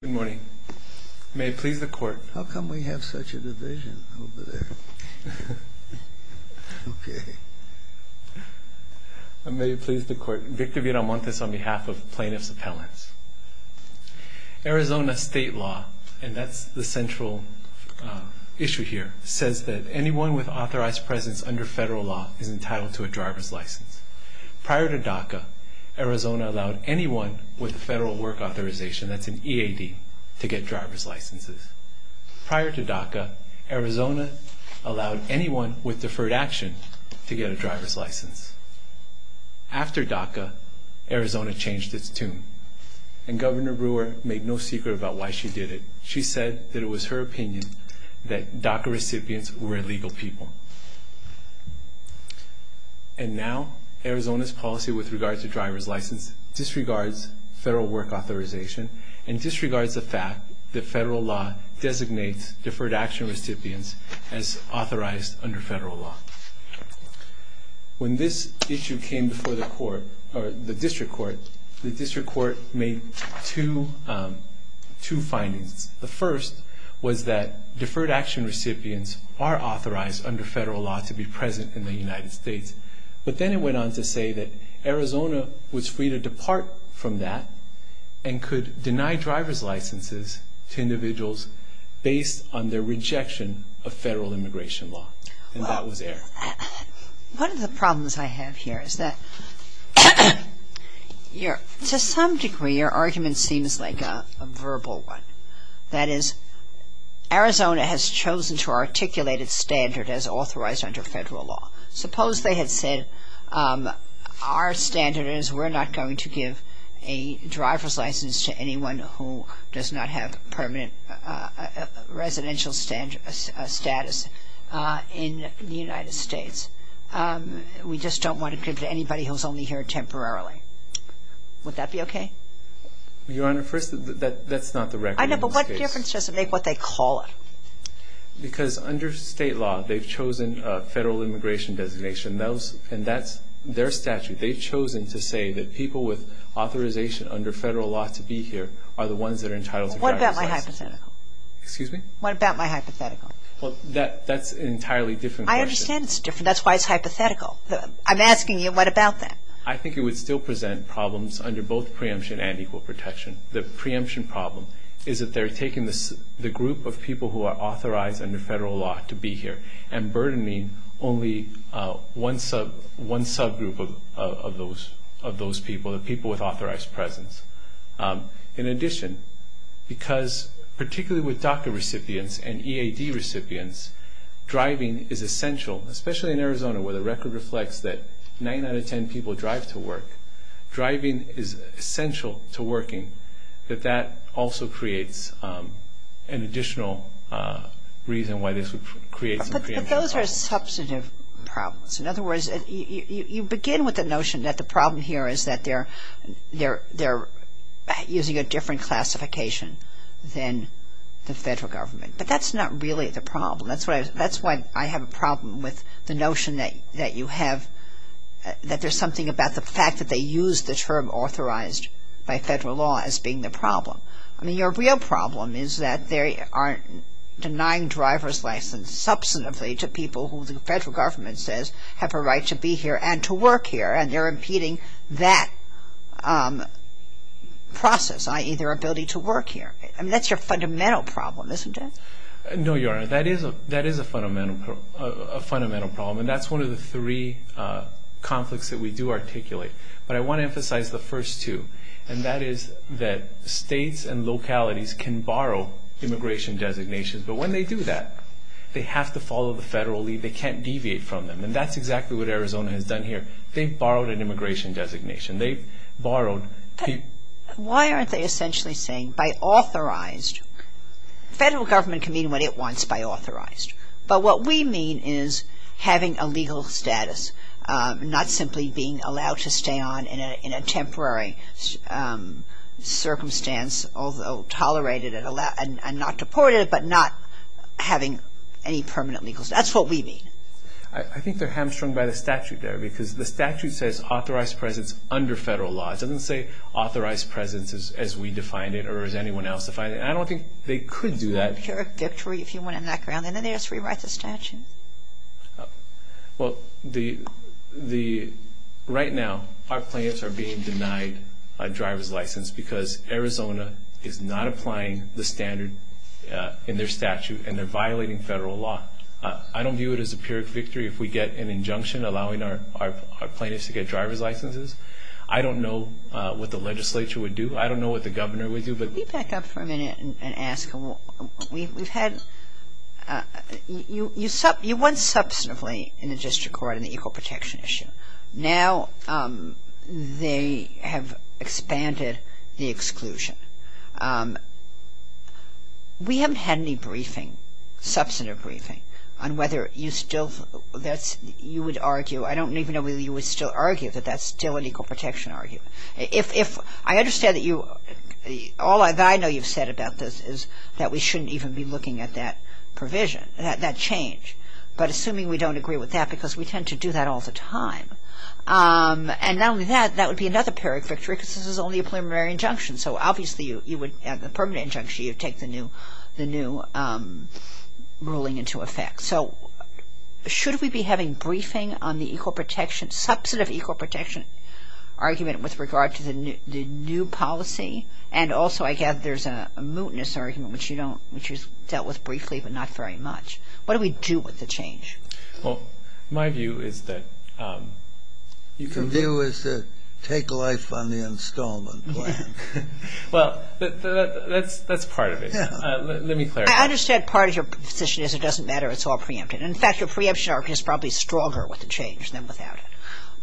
Good morning. May it please the court. How come we have such a division over there? Okay. May it please the court. Victor Villalmontes on behalf of Plaintiff's Appellants. Arizona state law, and that's the central issue here, says that anyone with authorized presence under federal law is entitled to a driver's license. Prior to DACA, Arizona allowed anyone with a federal work authorization, that's an EAD, to get driver's licenses. Prior to DACA, Arizona allowed anyone with deferred action to get a driver's license. After DACA, Arizona changed its tune. And Governor Brewer made no secret about why she did it. She said that it was her opinion that DACA recipients were illegal people. And now, Arizona's policy with regard to driver's license disregards federal work authorization and disregards the fact that federal law designates deferred action recipients as authorized under federal law. When this issue came before the court, or the district court, the district court made two findings. The first was that deferred action recipients are authorized under federal law to be present in the United States. But then it went on to say that Arizona was free to depart from that and could deny driver's licenses to individuals based on their rejection of federal immigration law. And that was air. One of the problems I have here is that, to some degree, your argument seems like a verbal one. That is, Arizona has chosen to articulate its standard as authorized under federal law. Suppose they had said, our standard is we're not going to give a driver's license to anyone who does not have permanent residential status in the United States. We just don't want to give it to anybody who's only here temporarily. Would that be okay? Your Honor, first, that's not the record in this case. I know, but what difference does it make what they call it? Because under state law, they've chosen a federal immigration designation, and that's their statute. They've chosen to say that people with authorization under federal law to be here are the ones that are entitled to driver's license. What about my hypothetical? Excuse me? What about my hypothetical? Well, that's an entirely different question. I understand it's different. That's why it's hypothetical. I'm asking you, what about that? I think it would still present problems under both preemption and equal protection. The preemption problem is that they're taking the group of people who are authorized under federal law to be here and burdening only one subgroup of those people, the people with authorized presence. In addition, because particularly with DACA recipients and EAD recipients, driving is essential, especially in Arizona where the record reflects that 9 out of 10 people drive to work. But those are substantive problems. In other words, you begin with the notion that the problem here is that they're using a different classification than the federal government. But that's not really the problem. That's why I have a problem with the notion that you have, that there's something about the fact that they use the term authorized by federal law as being the problem. I mean, your real problem is that they are denying driver's license substantively to people who the federal government says have a right to be here and to work here, and they're impeding that process, i.e., their ability to work here. I mean, that's your fundamental problem, isn't it? No, Your Honor. That is a fundamental problem, and that's one of the three conflicts that we do articulate. But I want to emphasize the first two. And that is that states and localities can borrow immigration designations, but when they do that, they have to follow the federal lead. They can't deviate from them. And that's exactly what Arizona has done here. They've borrowed an immigration designation. They've borrowed people. But why aren't they essentially saying by authorized? Federal government can mean what it wants by authorized. But what we mean is having a legal status, not simply being allowed to stay on in a temporary circumstance, although tolerated and not deported, but not having any permanent legal status. That's what we mean. I think they're hamstrung by the statute there, because the statute says authorized presence under federal law. It doesn't say authorized presence as we defined it or as anyone else defined it. And I don't think they could do that. Is it a pyrrhic victory if you want to knock around and ask to rewrite the statute? Well, right now our plaintiffs are being denied a driver's license because Arizona is not applying the standard in their statute, and they're violating federal law. I don't view it as a pyrrhic victory if we get an injunction allowing our plaintiffs to get driver's licenses. I don't know what the legislature would do. I don't know what the governor would do. Let me back up for a minute and ask. You won substantively in the district court on the equal protection issue. Now they have expanded the exclusion. We haven't had any briefing, substantive briefing, on whether you still would argue. I don't even know whether you would still argue that that's still an equal protection argument. I understand that you, all that I know you've said about this is that we shouldn't even be looking at that provision, that change. But assuming we don't agree with that because we tend to do that all the time. And not only that, that would be another pyrrhic victory because this is only a preliminary injunction. So obviously you would, at the permanent injunction, you'd take the new ruling into effect. So should we be having briefing on the equal protection, substantive equal protection argument with regard to the new policy? And also I gather there's a mootness argument which you dealt with briefly but not very much. What do we do with the change? Well, my view is that you can do is to take life on the installment plan. Well, that's part of it. Let me clarify. I understand part of your position is it doesn't matter, it's all preempted. In fact, your preemption argument is probably stronger with the change than without it.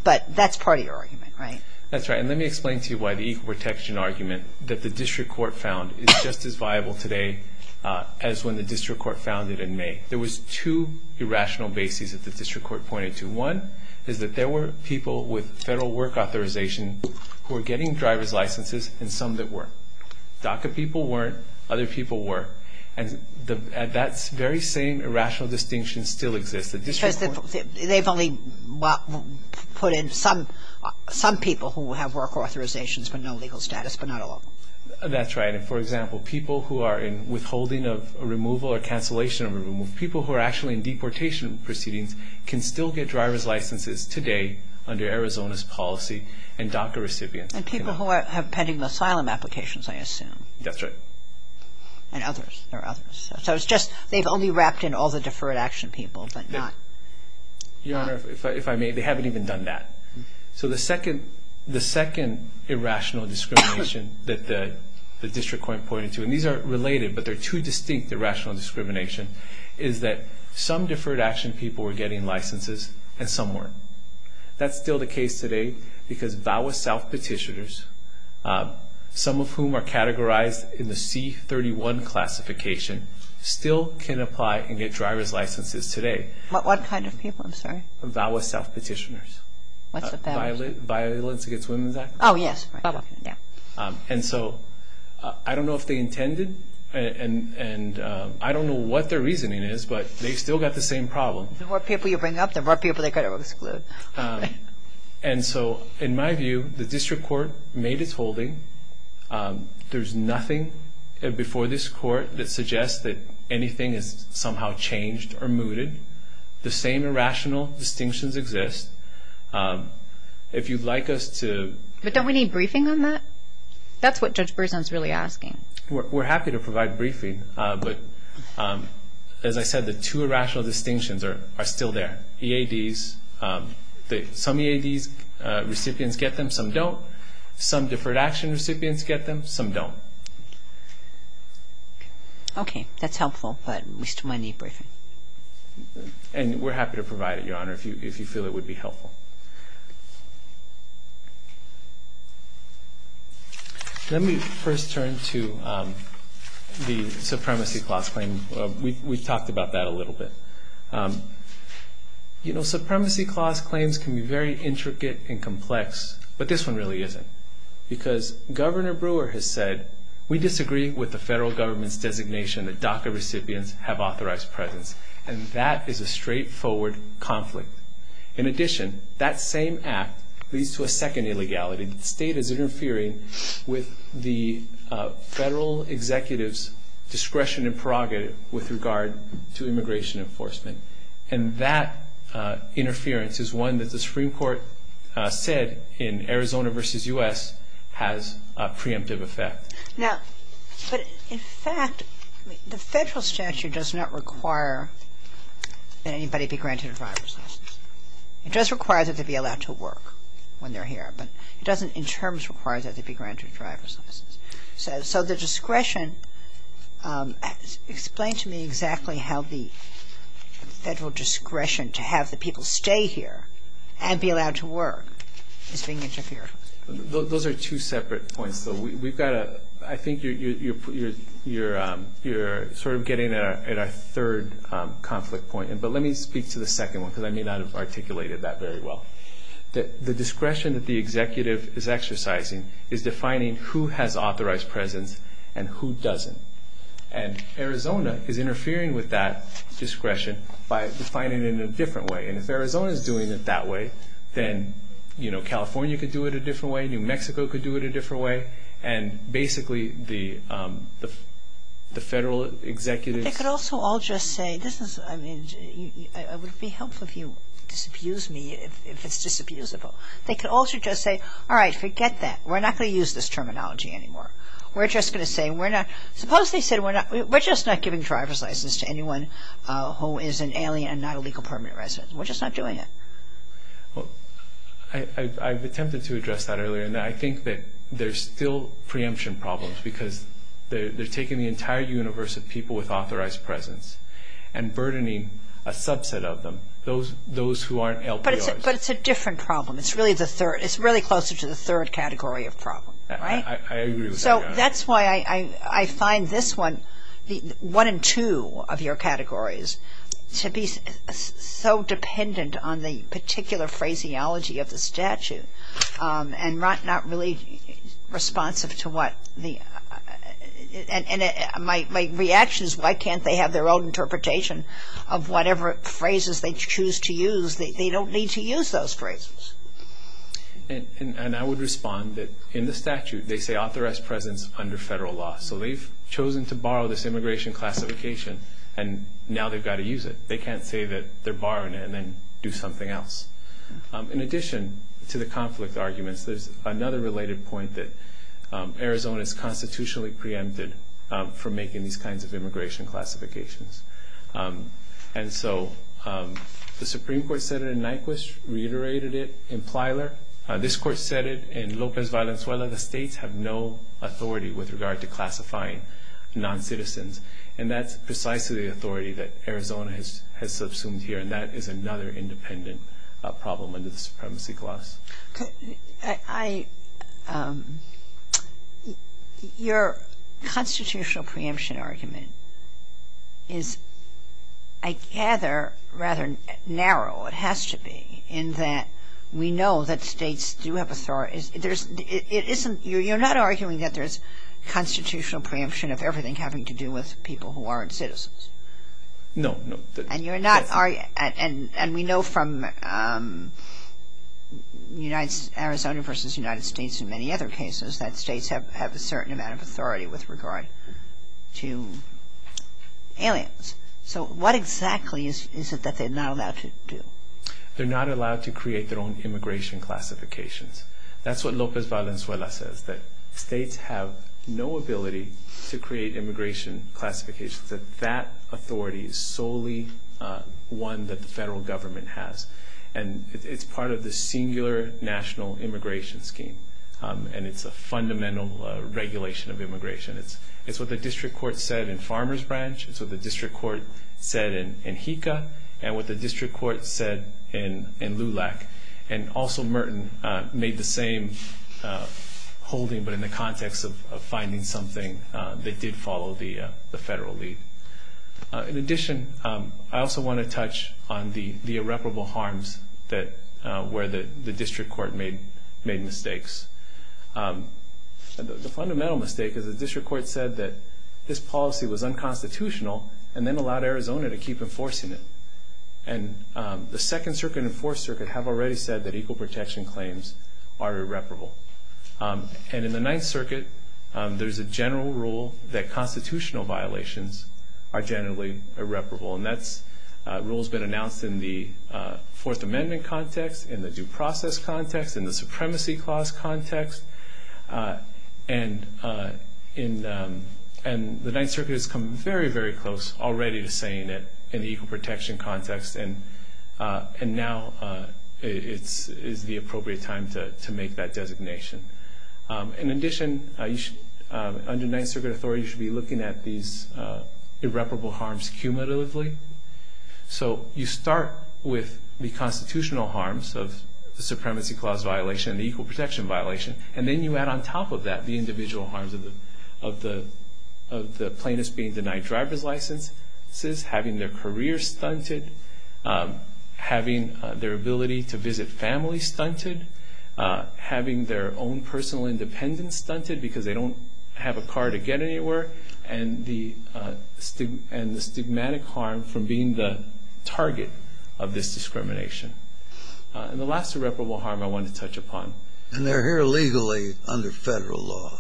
But that's part of your argument, right? That's right. And let me explain to you why the equal protection argument that the district court found is just as viable today as when the district court found it in May. There was two irrational bases that the district court pointed to. One is that there were people with federal work authorization who were getting driver's licenses and some that weren't. DACA people weren't, other people were. And that very same irrational distinction still exists. They've only put in some people who have work authorizations but no legal status but not all of them. That's right. And, for example, people who are in withholding of removal or cancellation of removal, people who are actually in deportation proceedings can still get driver's licenses today under Arizona's policy and DACA recipients. And people who are pending asylum applications, I assume. That's right. And others, there are others. So it's just they've only wrapped in all the deferred action people but not... Your Honor, if I may, they haven't even done that. So the second irrational discrimination that the district court pointed to, and these are related but they're two distinct irrational discrimination, is that some deferred action people were getting licenses and some weren't. That's still the case today because VAWA self-petitioners, some of whom are categorized in the C-31 classification, still can apply and get driver's licenses today. What kind of people? I'm sorry. VAWA self-petitioners. What's the VAWA? Violence Against Women's Act. Oh, yes. And so I don't know if they intended and I don't know what their reasoning is but they've still got the same problem. The more people you bring up, the more people they've got to exclude. And so in my view, the district court made its holding. There's nothing before this court that suggests that anything has somehow changed or mooted. The same irrational distinctions exist. If you'd like us to... But don't we need briefing on that? That's what Judge Berzon is really asking. We're happy to provide briefing. But as I said, the two irrational distinctions are still there. EADs, some EADs recipients get them, some don't. Some deferred action recipients get them, some don't. Okay, that's helpful, but we still might need briefing. And we're happy to provide it, Your Honor, if you feel it would be helpful. Let me first turn to the supremacy clause claim. We've talked about that a little bit. You know, supremacy clause claims can be very intricate and complex, but this one really isn't because Governor Brewer has said, we disagree with the federal government's designation that DACA recipients have authorized presence, and that is a straightforward conflict. In addition, that same act leads to a second illegality. The state is interfering with the federal executive's discretion and prerogative with regard to immigration enforcement, and that interference is one that the Supreme Court said in Arizona v. U.S. has a preemptive effect. Now, but in fact, the federal statute does not require that anybody be granted driver's license. It does require that they be allowed to work when they're here, but it doesn't in terms require that they be granted driver's license. So the discretion, explain to me exactly how the federal discretion to have the people stay here and be allowed to work is being interfered with. Those are two separate points, though. We've got a – I think you're sort of getting at our third conflict point, but let me speak to the second one because I may not have articulated that very well. The discretion that the executive is exercising is defining who has authorized presence and who doesn't. And Arizona is interfering with that discretion by defining it in a different way, and if Arizona is doing it that way, then, you know, California could do it a different way, New Mexico could do it a different way, and basically the federal executive's – it would be helpful if you disabuse me if it's disabusable. They could also just say, all right, forget that. We're not going to use this terminology anymore. We're just going to say we're not – suppose they said we're not – we're just not giving driver's license to anyone who is an alien and not a legal permanent resident. We're just not doing it. I've attempted to address that earlier, and I think that there's still preemption problems because they're taking the entire universe of people with authorized presence and burdening a subset of them, those who aren't LPRs. But it's a different problem. It's really closer to the third category of problem, right? I agree with that. So that's why I find this one, one in two of your categories, to be so dependent on the particular phraseology of the statute and not really responsive to what the – the interpretation of whatever phrases they choose to use. They don't need to use those phrases. And I would respond that in the statute they say authorized presence under federal law. So they've chosen to borrow this immigration classification, and now they've got to use it. They can't say that they're borrowing it and then do something else. In addition to the conflict arguments, there's another related point that Arizona is constitutionally preempted from making these kinds of immigration classifications. And so the Supreme Court said it in Nyquist, reiterated it in Plyler. This court said it in Lopez Valenzuela. The states have no authority with regard to classifying noncitizens, and that's precisely the authority that Arizona has subsumed here, and that is another independent problem under the supremacy clause. I – your constitutional preemption argument is, I gather, rather narrow. It has to be in that we know that states do have authority. There's – it isn't – you're not arguing that there's constitutional preemption of everything having to do with people who aren't citizens. No, no. And you're not – and we know from Arizona versus United States and many other cases that states have a certain amount of authority with regard to aliens. So what exactly is it that they're not allowed to do? They're not allowed to create their own immigration classifications. That's what Lopez Valenzuela says, that states have no ability to create immigration classifications, that that authority is solely one that the federal government has. And it's part of the singular national immigration scheme, and it's a fundamental regulation of immigration. It's what the district court said in Farmer's Branch. It's what the district court said in JICA, and what the district court said in LULAC. And also Merton made the same holding, but in the context of finding something that did follow the federal lead. In addition, I also want to touch on the irreparable harms where the district court made mistakes. The fundamental mistake is the district court said that this policy was unconstitutional and then allowed Arizona to keep enforcing it. And the Second Circuit and Fourth Circuit have already said that equal protection claims are irreparable. And in the Ninth Circuit, there's a general rule that constitutional violations are generally irreparable. And that rule has been announced in the Fourth Amendment context, in the due process context, in the supremacy clause context. And the Ninth Circuit has come very, very close already to saying it in the equal protection context. And now is the appropriate time to make that designation. In addition, under Ninth Circuit authority, you should be looking at these irreparable harms cumulatively. So you start with the constitutional harms of the supremacy clause violation and the equal protection violation, and then you add on top of that the individual harms of the plaintiffs being denied driver's licenses, having their career stunted, having their ability to visit family stunted, having their own personal independence stunted because they don't have a car to get anywhere, and the stigmatic harm from being the target of this discrimination. And the last irreparable harm I want to touch upon. And they're here legally under federal law.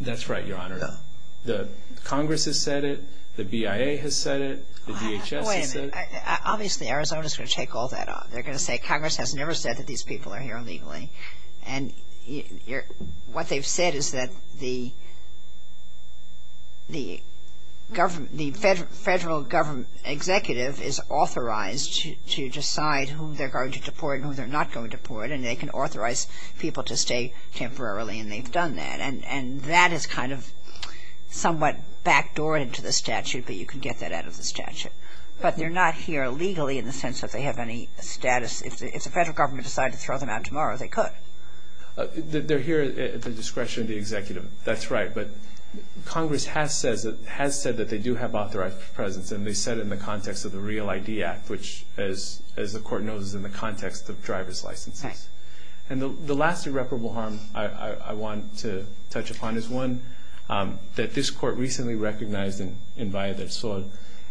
That's right, Your Honor. The Congress has said it. The BIA has said it. The DHS has said it. Obviously, Arizona is going to take all that on. They're going to say Congress has never said that these people are here illegally. And what they've said is that the federal government executive is authorized to decide who they're going to deport and who they're not going to deport, and they can authorize people to stay temporarily, and they've done that. And that is kind of somewhat backdoored to the statute, but you can get that out of the statute. But they're not here illegally in the sense that they have any status. If the federal government decided to throw them out tomorrow, they could. They're here at the discretion of the executive. That's right. But Congress has said that they do have authorized presence, and they said it in the context of the REAL ID Act, which, as the Court knows, is in the context of driver's licenses. And the last irreparable harm I want to touch upon is one that this Court recently recognized in Valle del Sol,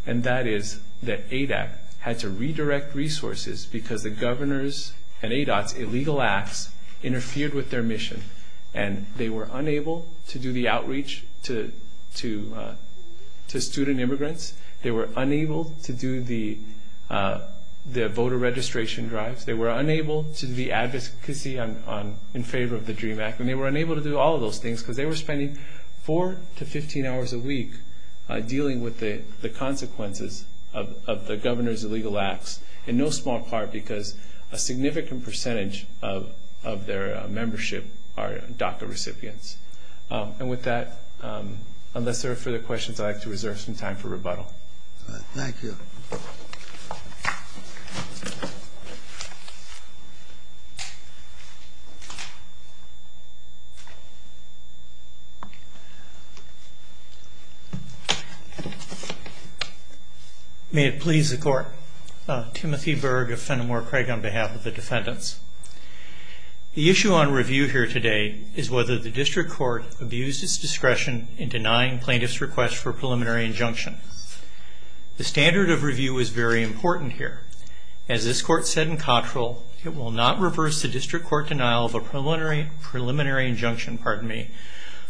and that is that ADOT had to redirect resources because the governor's and ADOT's illegal acts interfered with their mission, and they were unable to do the outreach to student immigrants. They were unable to do the voter registration drives. They were unable to do the advocacy in favor of the DREAM Act, and they were unable to do all of those things because they were spending 4 to 15 hours a week dealing with the consequences of the governor's illegal acts, in no small part because a significant percentage of their membership are DACA recipients. And with that, unless there are further questions, I'd like to reserve some time for rebuttal. Thank you. May it please the Court. Timothy Berg of Fenimore Craig on behalf of the defendants. The issue on review here today is whether the district court abused its discretion in denying plaintiffs' request for a preliminary injunction. The standard of review is very important here. As this Court said in Cottrell, it will not reverse the district court denial of a preliminary injunction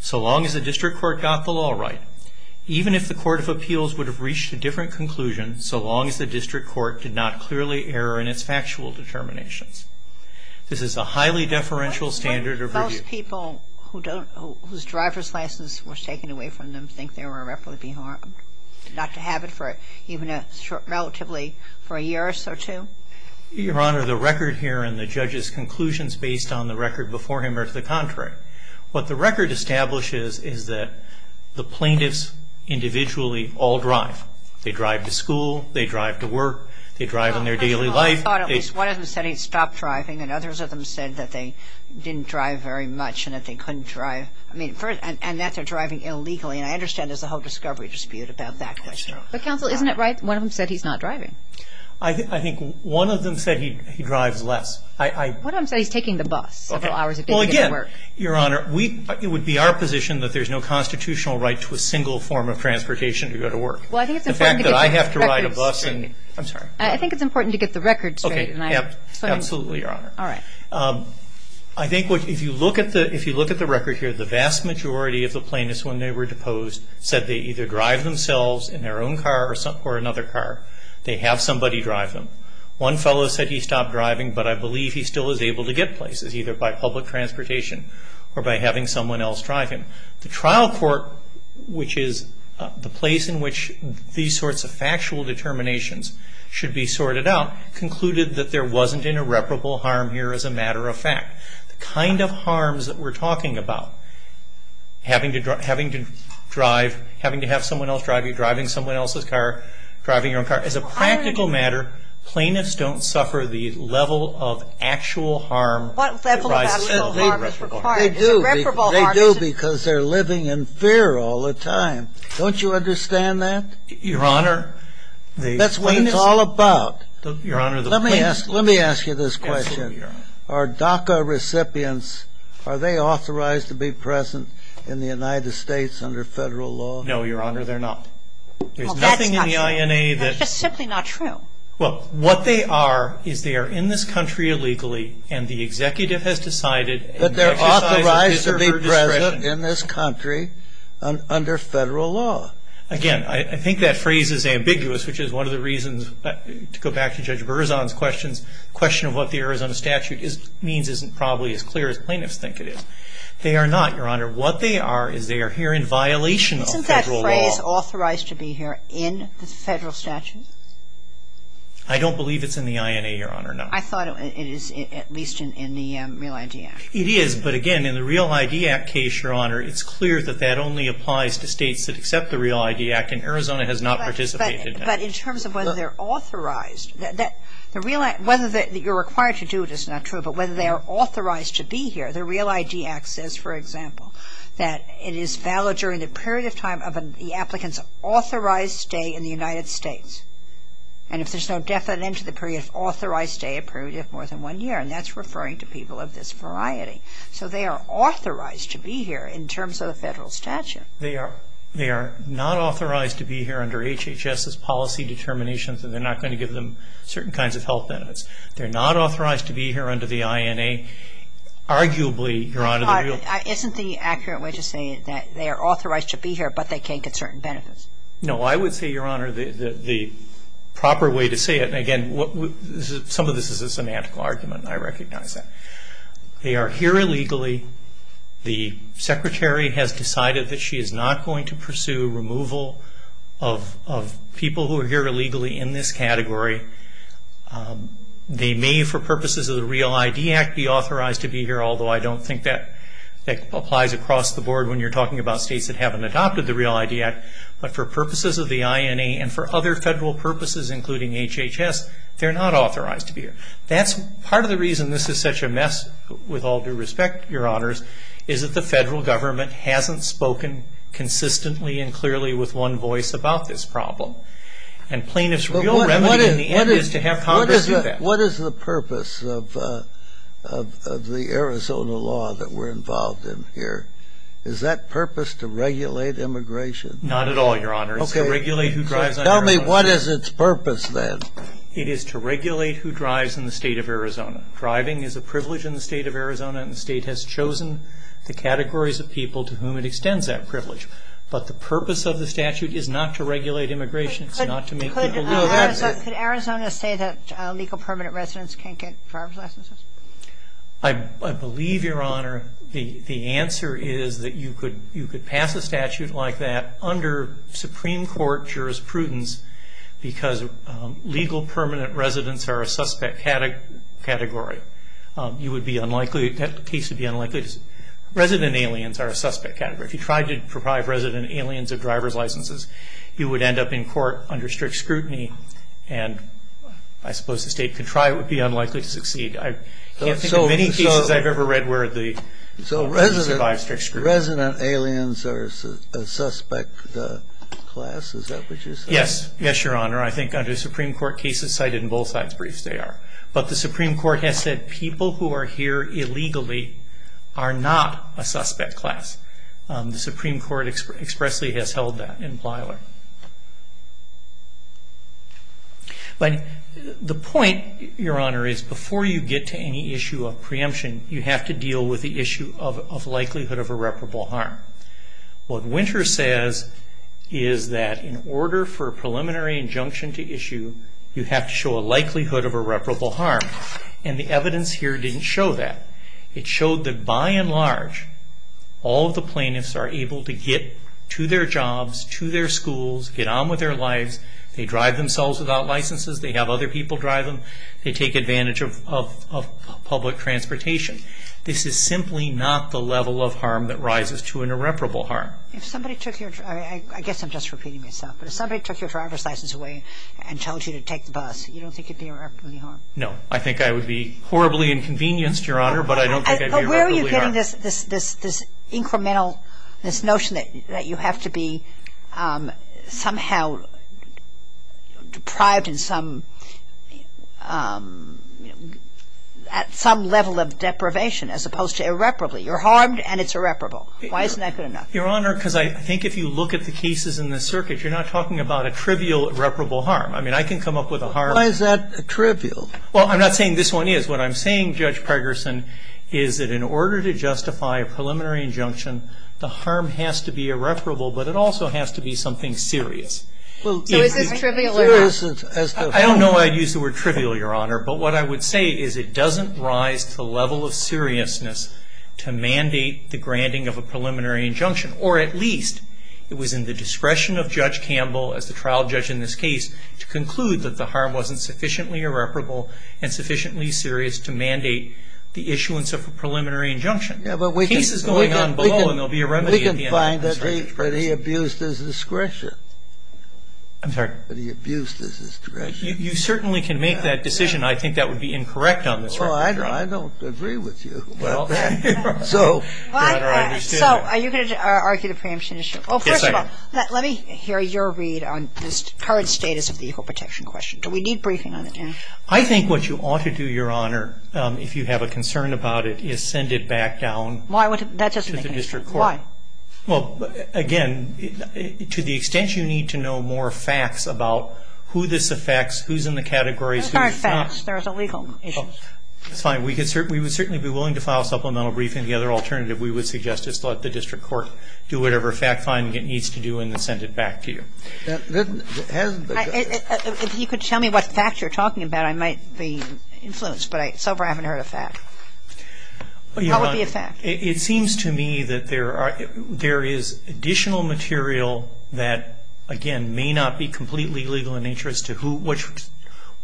so long as the district court got the law right, even if the court of appeals would have reached a different conclusion so long as the district court did not clearly error in its factual determinations. This is a highly deferential standard of review. Do most people whose driver's license was taken away from them think they were irreparably harmed, not to have it for even relatively for a year or so too? Your Honor, the record here and the judge's conclusions based on the record before him are to the contrary. What the record establishes is that the plaintiffs individually all drive. They drive to school. They drive to work. They drive in their daily life. I thought at least one of them said he stopped driving and others of them said that they didn't drive very much and that they couldn't drive. I mean, and that they're driving illegally, and I understand there's a whole discovery dispute about that question. But, counsel, isn't it right one of them said he's not driving? I think one of them said he drives less. One of them said he's taking the bus several hours a day to get to work. Well, again, Your Honor, it would be our position that there's no constitutional right to a single form of transportation to go to work. Well, I think it's important to get the records straight. The fact that I have to ride a bus and – I'm sorry. I think it's important to get the records straight. Absolutely, Your Honor. All right. I think if you look at the record here, the vast majority of the plaintiffs when they were deposed said they either drive themselves in their own car or another car. They have somebody drive them. One fellow said he stopped driving, but I believe he still is able to get places either by public transportation or by having someone else drive him. The trial court, which is the place in which these sorts of factual determinations should be sorted out, concluded that there wasn't irreparable harm here as a matter of fact. The kind of harms that we're talking about, having to drive – having to have someone else drive you, driving someone else's car, driving your own car, as a practical matter, plaintiffs don't suffer the level of actual harm. What level of actual harm is required? Irreparable harm. They do because they're living in fear all the time. Don't you understand that? Your Honor, that's what it's all about. Your Honor, let me ask you this question. Absolutely, Your Honor. Are DACA recipients, are they authorized to be present in the United States under federal law? No, Your Honor, they're not. There's nothing in the INA that – That's just simply not true. Well, what they are is they are in this country illegally and the executive has decided – That they're authorized to be present in this country under federal law. Again, I think that phrase is ambiguous, which is one of the reasons – to go back to Judge Berzon's questions, the question of what the Arizona statute means isn't probably as clear as plaintiffs think it is. They are not, Your Honor. What they are is they are here in violation of federal law. Isn't that phrase authorized to be here in the federal statute? I don't believe it's in the INA, Your Honor, no. I thought it is at least in the REAL ID Act. It is, but again, in the REAL ID Act case, Your Honor, it's clear that that only applies to states that accept the REAL ID Act and Arizona has not participated in it. But in terms of whether they're authorized, whether you're required to do it is not true, but whether they are authorized to be here, the REAL ID Act says, for example, that it is valid during the period of time of the applicant's authorized stay in the United States, and if there's no definite end to the period of authorized stay, a period of more than one year, and that's referring to people of this variety. So they are authorized to be here in terms of the federal statute. They are not authorized to be here under HHS's policy determinations and they're not going to give them certain kinds of health benefits. They're not authorized to be here under the INA. Arguably, Your Honor, the REAL ID Act... Isn't the accurate way to say that they are authorized to be here but they can't get certain benefits? No, I would say, Your Honor, the proper way to say it, and again, some of this is a semantical argument and I recognize that. They are here illegally. The Secretary has decided that she is not going to pursue removal of people who are here illegally in this category. They may, for purposes of the REAL ID Act, be authorized to be here, although I don't think that applies across the board when you're talking about states that haven't adopted the REAL ID Act, but for purposes of the INA and for other federal purposes, including HHS, they're not authorized to be here. Part of the reason this is such a mess, with all due respect, Your Honors, is that the federal government hasn't spoken consistently and clearly with one voice about this problem. And plaintiff's real remedy in the end is to have Congress do that. What is the purpose of the Arizona law that we're involved in here? Is that purpose to regulate immigration? Not at all, Your Honor. Okay. It's to regulate who drives... Tell me what is its purpose, then. It is to regulate who drives in the state of Arizona. Driving is a privilege in the state of Arizona, and the state has chosen the categories of people to whom it extends that privilege. But the purpose of the statute is not to regulate immigration. It's not to make people... Could Arizona say that legal permanent residents can't get driver's licenses? I believe, Your Honor, the answer is that you could pass a statute like that under Supreme Court jurisprudence because legal permanent residents are a suspect category. You would be unlikely... That case would be unlikely to... Resident aliens are a suspect category. If you tried to deprive resident aliens of driver's licenses, you would end up in court under strict scrutiny, and I suppose the state could try. It would be unlikely to succeed. I can't think of any cases I've ever read where the... Resident aliens are a suspect class. Is that what you said? Yes. Yes, Your Honor. I think under Supreme Court cases cited in both sides' briefs, they are. But the Supreme Court has said people who are here illegally are not a suspect class. The Supreme Court expressly has held that in Plyler. But the point, Your Honor, is before you get to any issue of preemption, you have to deal with the issue of likelihood of irreparable harm. What Winter says is that in order for a preliminary injunction to issue, you have to show a likelihood of irreparable harm, and the evidence here didn't show that. It showed that by and large, all of the plaintiffs are able to get to their jobs, to their schools, get on with their lives. They drive themselves without licenses. They have other people drive them. They take advantage of public transportation. This is simply not the level of harm that rises to an irreparable harm. If somebody took your driver's license away and told you to take the bus, you don't think it would be irreparably harmed? No. I think I would be horribly inconvenienced, Your Honor, but I don't think I'd be irreparably harmed. So where are you getting this incremental, this notion that you have to be somehow deprived in some level of deprivation as opposed to irreparably? You're harmed and it's irreparable. Why isn't that good enough? Your Honor, because I think if you look at the cases in this circuit, you're not talking about a trivial irreparable harm. I mean, I can come up with a harm. Why is that trivial? Well, I'm not saying this one is. What I'm saying, Judge Pregerson, is that in order to justify a preliminary injunction, the harm has to be irreparable, but it also has to be something serious. So is this trivial or not? I don't know why I'd use the word trivial, Your Honor, but what I would say is it doesn't rise to the level of seriousness to mandate the granting of a preliminary injunction, or at least it was in the discretion of Judge Campbell, as the trial judge in this case, to conclude that the harm wasn't sufficiently irreparable and sufficiently serious to mandate the issuance of a preliminary injunction. The case is going on below and there will be a remedy at the end. We can find that he abused his discretion. I'm sorry? That he abused his discretion. You certainly can make that decision. I think that would be incorrect on this record. Well, I don't agree with you about that. So, Your Honor, I understand. So are you going to argue the preemption issue? Yes, I am. Let me hear your read on the current status of the equal protection question. Do we need briefing on that? I think what you ought to do, Your Honor, if you have a concern about it, is send it back down to the district court. Why? Well, again, to the extent you need to know more facts about who this affects, who's in the categories, who's not. Those aren't facts. Those are legal issues. It's fine. We would certainly be willing to file supplemental briefing. The other alternative we would suggest is to let the district court do whatever fact-finding it needs to do and then send it back to you. If you could tell me what facts you're talking about, I might be influenced, but so far I haven't heard a fact. What would be a fact? It seems to me that there is additional material that, again, may not be completely legal in nature as to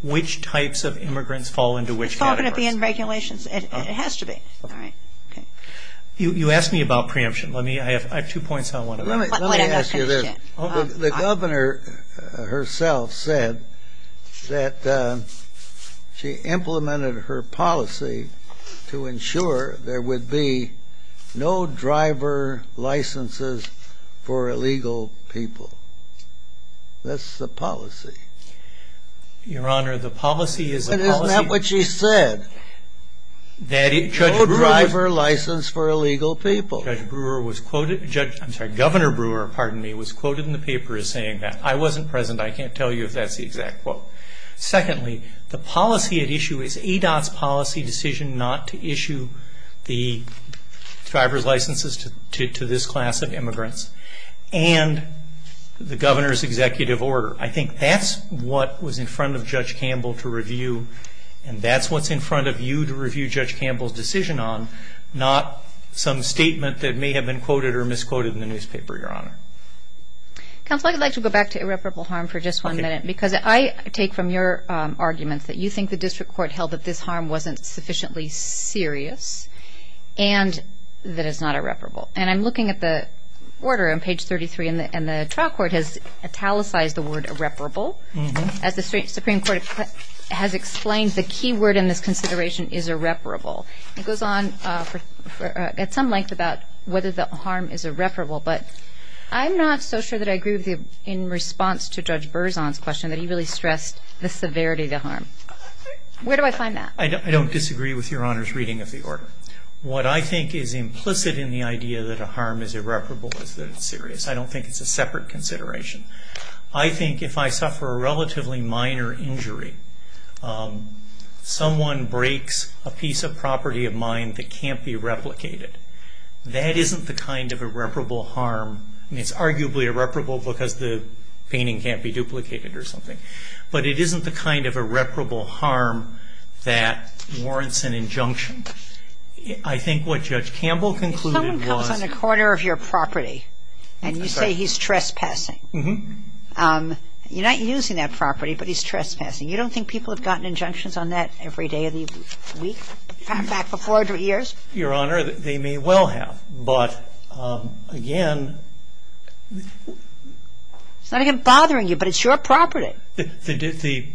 which types of immigrants fall into which categories. It's all going to be in regulations. It has to be. All right. Okay. You asked me about preemption. I have two points on one of them. Let me ask you this. The governor herself said that she implemented her policy to ensure there would be no driver licenses for illegal people. That's the policy. Your Honor, the policy is the policy. Isn't that what she said? No driver license for illegal people. Governor Brewer was quoted in the paper as saying that. I wasn't present. I can't tell you if that's the exact quote. Secondly, the policy at issue is ADOT's policy decision not to issue the driver's licenses to this class of immigrants and the governor's executive order. I think that's what was in front of Judge Campbell to review, and that's what's in front of you to review Judge Campbell's decision on, not some statement that may have been quoted or misquoted in the newspaper, Your Honor. Counsel, I'd like to go back to irreparable harm for just one minute. Okay. Because I take from your arguments that you think the district court held that this harm wasn't sufficiently serious and that it's not irreparable. And I'm looking at the order on page 33, and the trial court has italicized the word irreparable. As the Supreme Court has explained, the key word in this consideration is irreparable. It goes on at some length about whether the harm is irreparable, but I'm not so sure that I agree with you in response to Judge Berzon's question that he really stressed the severity of the harm. Where do I find that? I don't disagree with Your Honor's reading of the order. What I think is implicit in the idea that a harm is irreparable is that it's serious. I don't think it's a separate consideration. I think if I suffer a relatively minor injury, someone breaks a piece of property of mine that can't be replicated, that isn't the kind of irreparable harm. I mean, it's arguably irreparable because the painting can't be duplicated or something, but it isn't the kind of irreparable harm that warrants an injunction. I think what Judge Campbell concluded was- You're not using that property, but he's trespassing. You don't think people have gotten injunctions on that every day of the week? In fact, for 400 years? Your Honor, they may well have, but again- It's not even bothering you, but it's your property. The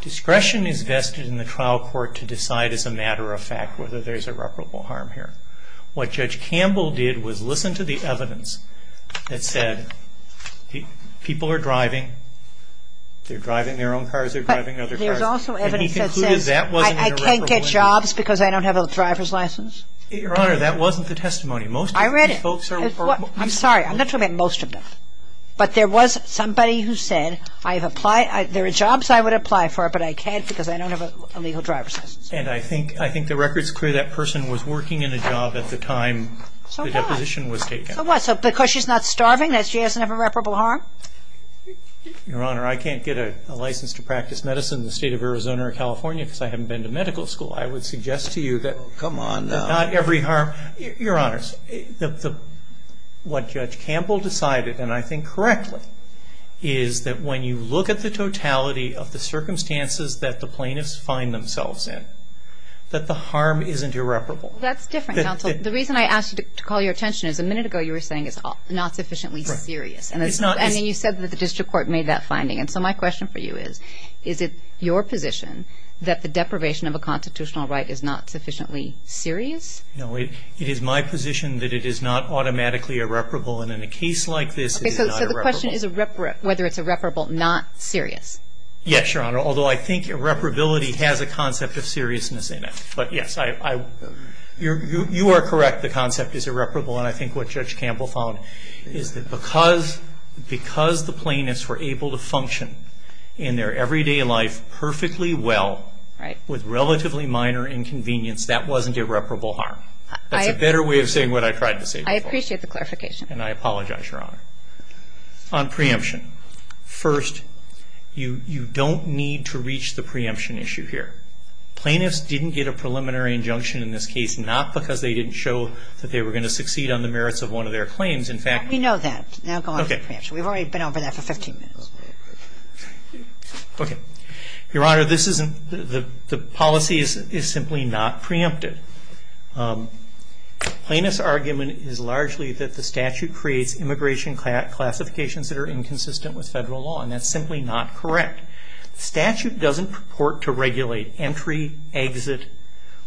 discretion is vested in the trial court to decide as a matter of fact whether there's irreparable harm here. What Judge Campbell did was listen to the evidence that said people are driving. They're driving their own cars. They're driving other cars. But there's also evidence that says I can't get jobs because I don't have a driver's license. Your Honor, that wasn't the testimony. Most of these folks are- I read it. I'm sorry. I'm not talking about most of them, but there was somebody who said there are jobs I would apply for, but I can't because I don't have a legal driver's license. And I think the record's clear that person was working in a job at the time the deposition was taken. So what? So because she's not starving, that she doesn't have irreparable harm? Your Honor, I can't get a license to practice medicine in the state of Arizona or California because I haven't been to medical school. I would suggest to you that- Oh, come on now. Not every harm- Your Honor, what Judge Campbell decided, and I think correctly, is that when you look at the totality of the circumstances that the plaintiffs find themselves in, that the harm isn't irreparable. That's different, counsel. The reason I asked you to call your attention is a minute ago you were saying it's not sufficiently serious. And then you said that the district court made that finding. And so my question for you is, is it your position that the deprivation of a constitutional right is not sufficiently serious? No, it is my position that it is not automatically irreparable. And in a case like this, it is not irreparable. My question is whether it's irreparable, not serious. Yes, Your Honor, although I think irreparability has a concept of seriousness in it. But yes, you are correct, the concept is irreparable. And I think what Judge Campbell found is that because the plaintiffs were able to function in their everyday life perfectly well, with relatively minor inconvenience, that wasn't irreparable harm. That's a better way of saying what I tried to say before. I appreciate the clarification. And I apologize, Your Honor. On preemption. First, you don't need to reach the preemption issue here. Plaintiffs didn't get a preliminary injunction in this case, not because they didn't show that they were going to succeed on the merits of one of their claims. We know that. Now go on to preemption. We've already been over that for 15 minutes. Okay. Your Honor, the policy is simply not preempted. Plaintiff's argument is largely that the statute creates immigration classifications that are inconsistent with federal law. And that's simply not correct. The statute doesn't purport to regulate entry, exit,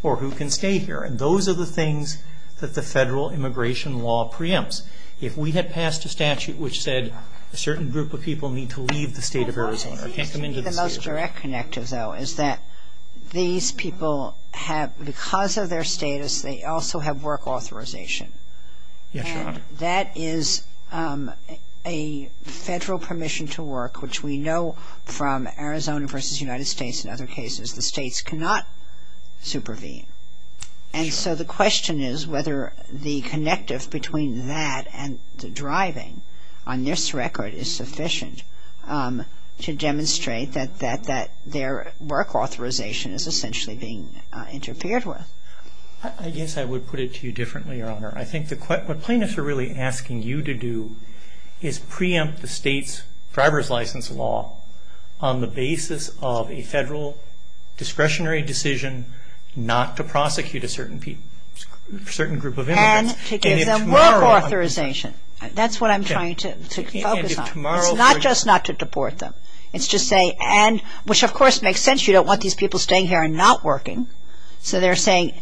or who can stay here. And those are the things that the federal immigration law preempts. If we had passed a statute which said a certain group of people need to leave the state of Arizona The most direct connective, though, is that these people have, because of their status, they also have work authorization. Yes, Your Honor. And that is a federal permission to work, which we know from Arizona versus United States and other cases, the states cannot supervene. And so the question is whether the connective between that and the driving on this record is sufficient to demonstrate that their work authorization is essentially being interfered with. I guess I would put it to you differently, Your Honor. I think what plaintiffs are really asking you to do is preempt the state's driver's license law on the basis of a federal discretionary decision not to prosecute a certain group of immigrants. And to give them work authorization. That's what I'm trying to focus on. It's not just not to deport them. It's to say, and, which of course makes sense. You don't want these people staying here and not working. So they're saying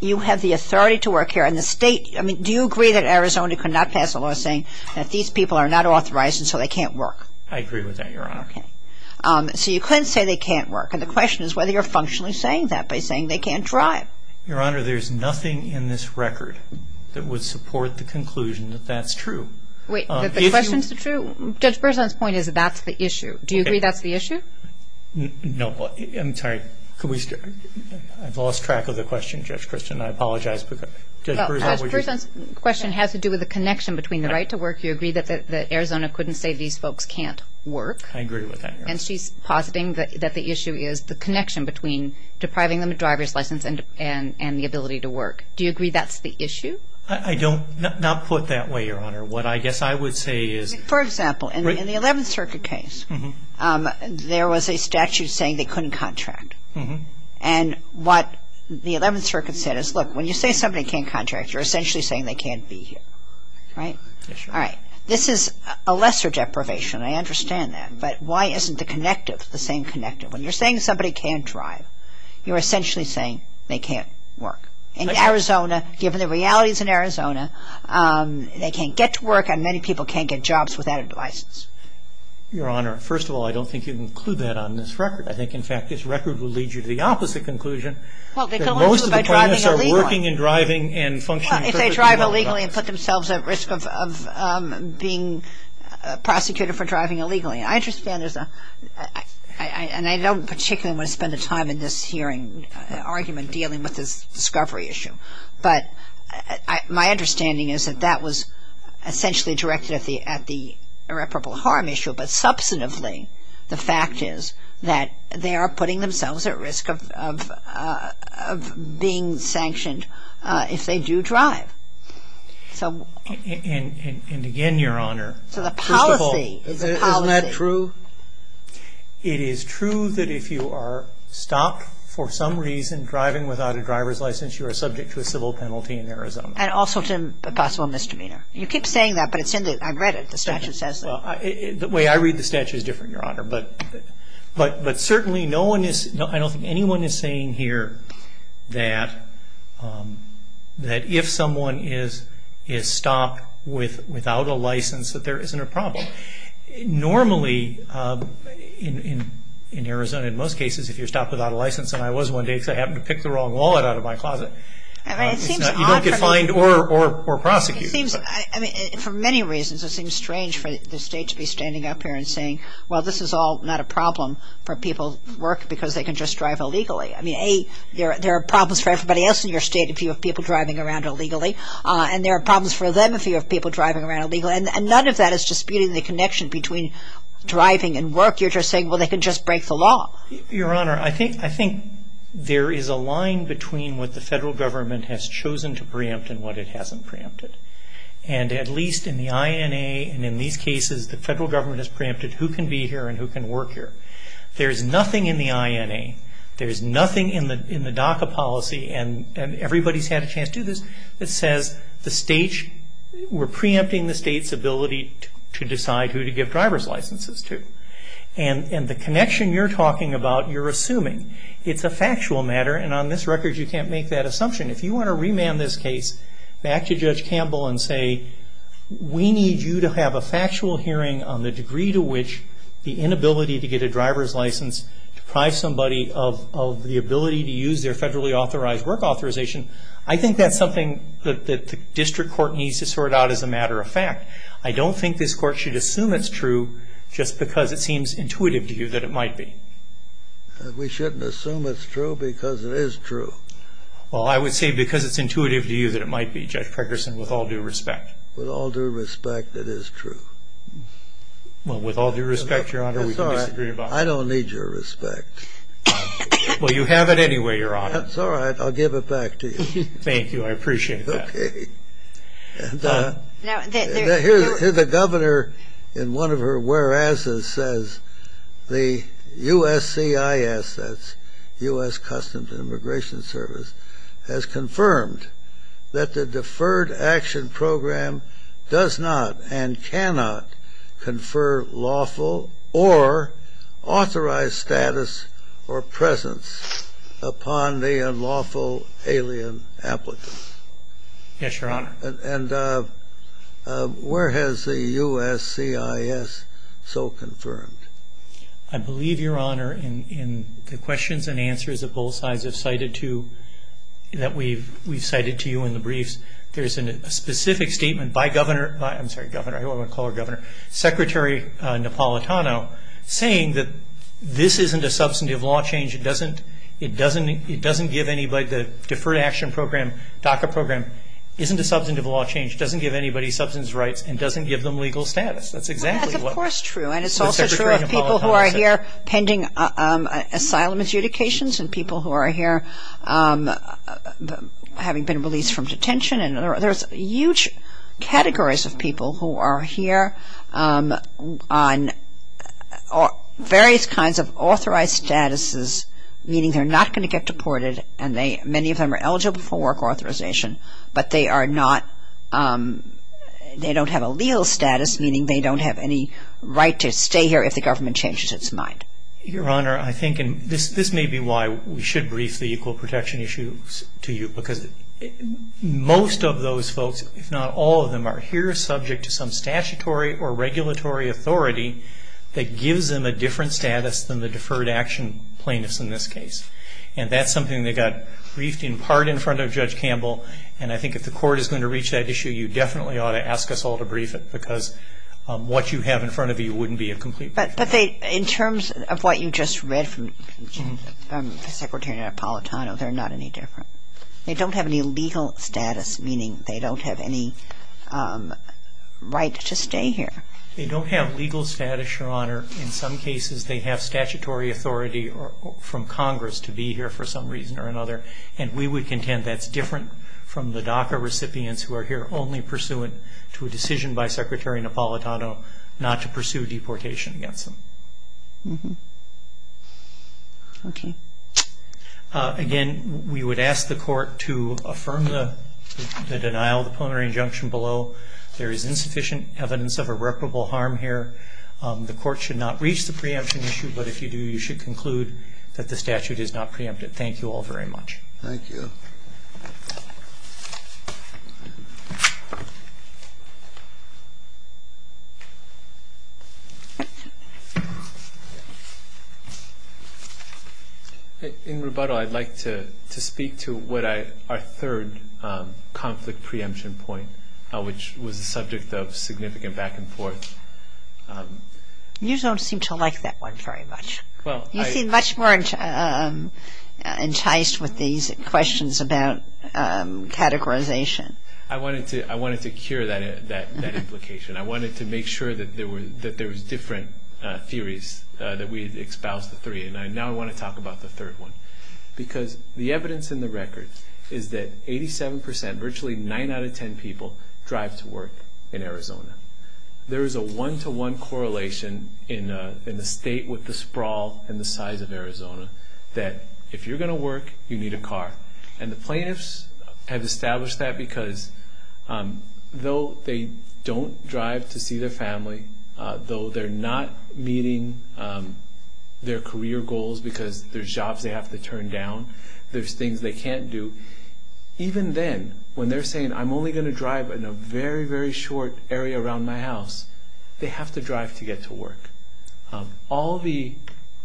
you have the authority to work here. And the state, I mean, do you agree that Arizona could not pass a law saying that these people are not authorized and so they can't work? I agree with that, Your Honor. Okay. So you couldn't say they can't work. And the question is whether you're functionally saying that by saying they can't drive. Your Honor, there's nothing in this record that would support the conclusion that that's true. Wait. That the questions are true? Judge Berzon's point is that that's the issue. Do you agree that's the issue? No. I'm sorry. Could we start? I've lost track of the question, Judge Christian. I apologize. Judge Berzon, would you? Well, Judge Berzon's question has to do with the connection between the right to work. You agree that Arizona couldn't say these folks can't work. I agree with that, Your Honor. And she's positing that the issue is the connection between depriving them of driver's license and the ability to work. Do you agree that's the issue? I don't. Not put that way, Your Honor. What I guess I would say is. For example, in the Eleventh Circuit case, there was a statute saying they couldn't contract. And what the Eleventh Circuit said is, look, when you say somebody can't contract, you're essentially saying they can't be here. Right? Yes, Your Honor. All right. This is a lesser deprivation. I understand that. But why isn't the connective the same connective? When you're saying somebody can't drive, you're essentially saying they can't work. In Arizona, given the realities in Arizona, they can't get to work, and many people can't get jobs without a license. Your Honor, first of all, I don't think you can include that on this record. I think, in fact, this record will lead you to the opposite conclusion. Well, they can only do it by driving illegally. Most of the plaintiffs are working and driving and functioning perfectly well. Well, if they drive illegally and put themselves at risk of being prosecuted for driving illegally. I understand there's a, and I don't particularly want to spend the time in this hearing argument dealing with this discovery issue. But my understanding is that that was essentially directed at the irreparable harm issue. But substantively, the fact is that they are putting themselves at risk of being sanctioned if they do drive. So. And again, Your Honor. So the policy. First of all. Isn't that true? It is true that if you are stopped for some reason driving without a driver's license, you are subject to a civil penalty in Arizona. And also to a possible misdemeanor. You keep saying that, but it's in the, I read it. The statute says that. Well, the way I read the statute is different, Your Honor. But certainly no one is, I don't think anyone is saying here that if someone is stopped without a license that there isn't a problem. Normally, in Arizona in most cases, if you're stopped without a license, and I was one day because I happened to pick the wrong wallet out of my closet. You don't get fined or prosecuted. For many reasons, it seems strange for the state to be standing up here and saying, well, this is all not a problem for people who work because they can just drive illegally. I mean, A, there are problems for everybody else in your state if you have people driving around illegally. And there are problems for them if you have people driving around illegally. And none of that is disputing the connection between driving and work. You're just saying, well, they can just break the law. Your Honor, I think there is a line between what the federal government has chosen to preempt and what it hasn't preempted. And at least in the INA and in these cases, the federal government has preempted who can be here and who can work here. There's nothing in the INA, there's nothing in the DACA policy, and everybody's had a chance to do this, that says the state, we're preempting the state's ability to decide who to give driver's licenses to. And the connection you're talking about, you're assuming. It's a factual matter, and on this record, you can't make that assumption. If you want to remand this case back to Judge Campbell and say, we need you to have a factual hearing on the degree to which the inability to get a driver's license deprives somebody of the ability to use their federally authorized work authorization, I think that's something that the district court needs to sort out as a matter of fact. I don't think this court should assume it's true just because it seems intuitive to you that it might be. We shouldn't assume it's true because it is true. Well, I would say because it's intuitive to you that it might be, Judge Preckerson, with all due respect. With all due respect, it is true. Well, with all due respect, Your Honor, we can disagree about it. I don't need your respect. Well, you have it anyway, Your Honor. That's all right. I'll give it back to you. Thank you. I appreciate that. Okay. The governor in one of her whereases says the USCIS, that's U.S. Customs and Immigration Service, has confirmed that the Deferred Action Program does not and cannot confer lawful or authorized status or presence upon the unlawful alien applicant. Yes, Your Honor. And where has the USCIS so confirmed? I believe, Your Honor, in the questions and answers that both sides have cited to, that we've cited to you in the briefs, there's a specific statement by Governor, I'm sorry, Governor, I don't want to call her Governor, Secretary Napolitano, saying that this isn't a substantive law change. It doesn't give anybody the Deferred Action Program, DACA program, isn't a substantive law change. It doesn't give anybody substance rights and doesn't give them legal status. That's exactly what Secretary Napolitano said. That's, of course, true. And it's also true of people who are here pending asylum adjudications and people who are here having been released from detention. And there's huge categories of people who are here on various kinds of authorized statuses, meaning they're not going to get deported and many of them are eligible for work authorization, but they are not, they don't have a legal status, meaning they don't have any right to stay here if the government changes its mind. Your Honor, I think, and this may be why we should brief the equal protection issues to you, because most of those folks, if not all of them, are here subject to some statutory or regulatory authority that gives them a different status than the deferred action plaintiffs in this case. And that's something that got briefed in part in front of Judge Campbell. And I think if the Court is going to reach that issue, you definitely ought to ask us all to brief it because what you have in front of you wouldn't be a complete brief. But in terms of what you just read from Secretary Napolitano, they're not any different. They don't have any legal status, meaning they don't have any right to stay here. They don't have legal status, Your Honor. In some cases they have statutory authority from Congress to be here for some reason or another, and we would contend that's different from the DACA recipients who are here only pursuant to a decision by Secretary Napolitano not to pursue deportation against them. Okay. Again, we would ask the Court to affirm the denial of the plenary injunction below. There is insufficient evidence of irreparable harm here. The Court should not reach the preemption issue, but if you do, you should conclude that the statute is not preempted. Thank you all very much. Thank you. In rebuttal, I'd like to speak to our third conflict preemption point, which was the subject of significant back and forth. You don't seem to like that one very much. You seem much more enticed with these questions about categorization. I wanted to cure that implication. I wanted to make sure that there was different theories, that we had espoused the three. Now I want to talk about the third one, because the evidence in the record is that 87%, virtually nine out of ten people, drive to work in Arizona. There is a one-to-one correlation in the state with the sprawl and the size of Arizona, that if you're going to work, you need a car. And the plaintiffs have established that because though they don't drive to see their family, though they're not meeting their career goals because there's jobs they have to turn down, there's things they can't do, even then, when they're saying, I'm only going to drive in a very, very short area around my house, they have to drive to get to work. All the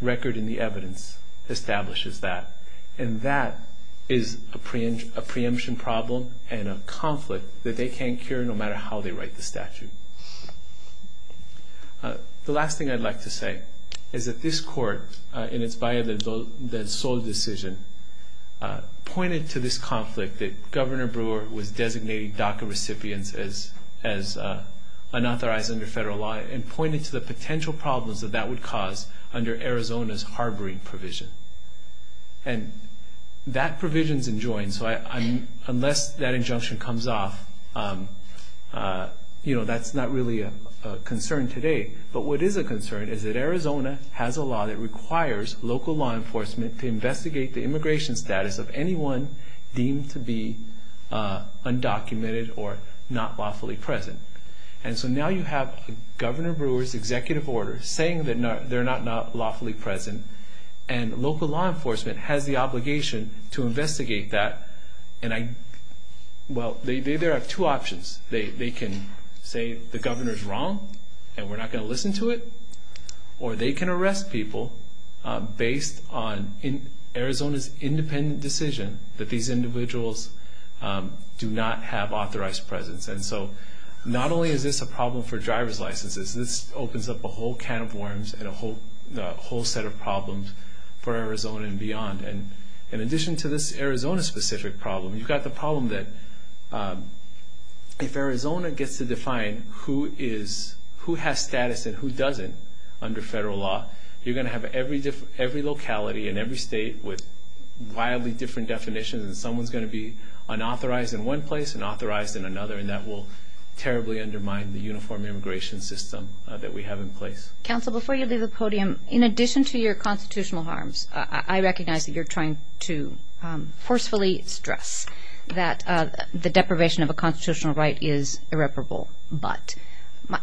record in the evidence establishes that, and that is a preemption problem and a conflict that they can't cure, no matter how they write the statute. The last thing I'd like to say is that this court, in its Valle del Sol decision, pointed to this conflict that Governor Brewer was designating DACA recipients as unauthorized under federal law and pointed to the potential problems that that would cause under Arizona's harboring provision. And that provision's enjoined, so unless that injunction comes off, that's not really a concern today. But what is a concern is that Arizona has a law that requires local law enforcement to investigate the immigration status of anyone deemed to be undocumented or not lawfully present. And so now you have Governor Brewer's executive order saying that they're not lawfully present and local law enforcement has the obligation to investigate that. Well, there are two options. They can say the governor's wrong and we're not going to listen to it, or they can arrest people based on Arizona's independent decision that these individuals do not have authorized presence. And so not only is this a problem for driver's licenses, this opens up a whole can of worms and a whole set of problems for Arizona and beyond. And in addition to this Arizona-specific problem, you've got the problem that if Arizona gets to define who has status and who doesn't under federal law, you're going to have every locality and every state with wildly different definitions and someone's going to be unauthorized in one place, unauthorized in another, and that will terribly undermine the uniform immigration system that we have in place. Counsel, before you leave the podium, in addition to your constitutional harms, I recognize that you're trying to forcefully stress that the deprivation of a constitutional right is irreparable, but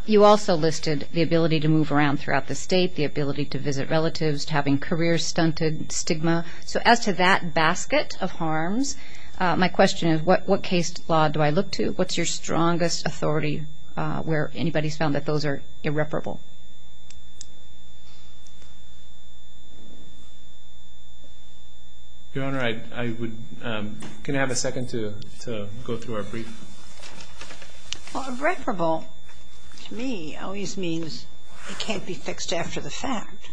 you also listed the ability to move around throughout the state, the ability to visit relatives, having career-stunted stigma. So as to that basket of harms, my question is what case law do I look to? What's your strongest authority where anybody's found that those are irreparable? Your Honor, can I have a second to go through our brief? Well, irreparable to me always means it can't be fixed after the fact.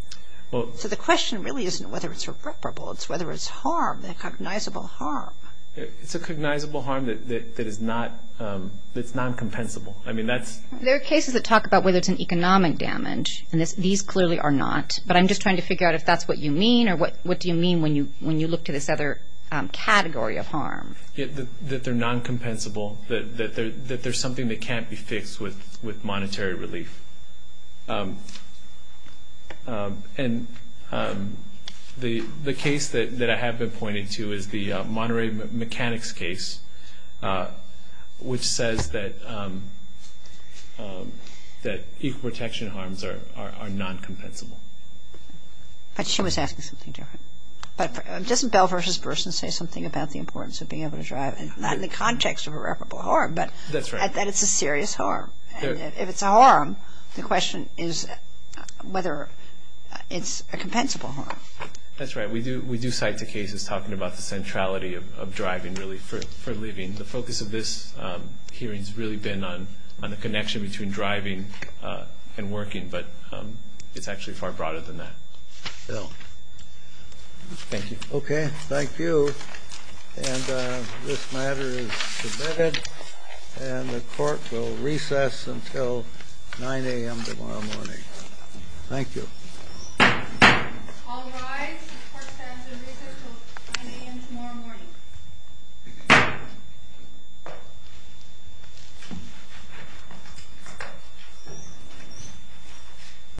So the question really isn't whether it's irreparable, it's whether it's harm, a cognizable harm. It's a cognizable harm that is non-compensable. There are cases that talk about whether it's an economic damage, and these clearly are not, but I'm just trying to figure out if that's what you mean or what do you mean when you look to this other category of harm. That they're non-compensable, that there's something that can't be fixed with monetary relief. And the case that I have been pointing to is the monetary mechanics case, which says that equal protection harms are non-compensable. But she was asking something different. But doesn't Bell v. Burson say something about the importance of being able to drive? Not in the context of irreparable harm, but that it's a serious harm. If it's a harm, the question is whether it's a compensable harm. That's right. We do cite the cases talking about the centrality of driving, really, for living. The focus of this hearing has really been on the connection between driving and working, but it's actually far broader than that. Thank you. Okay. Thank you. And this matter is submitted. And the court will recess until 9 a.m. tomorrow morning. Thank you. All rise. The court stands in recess until 9 a.m. tomorrow morning.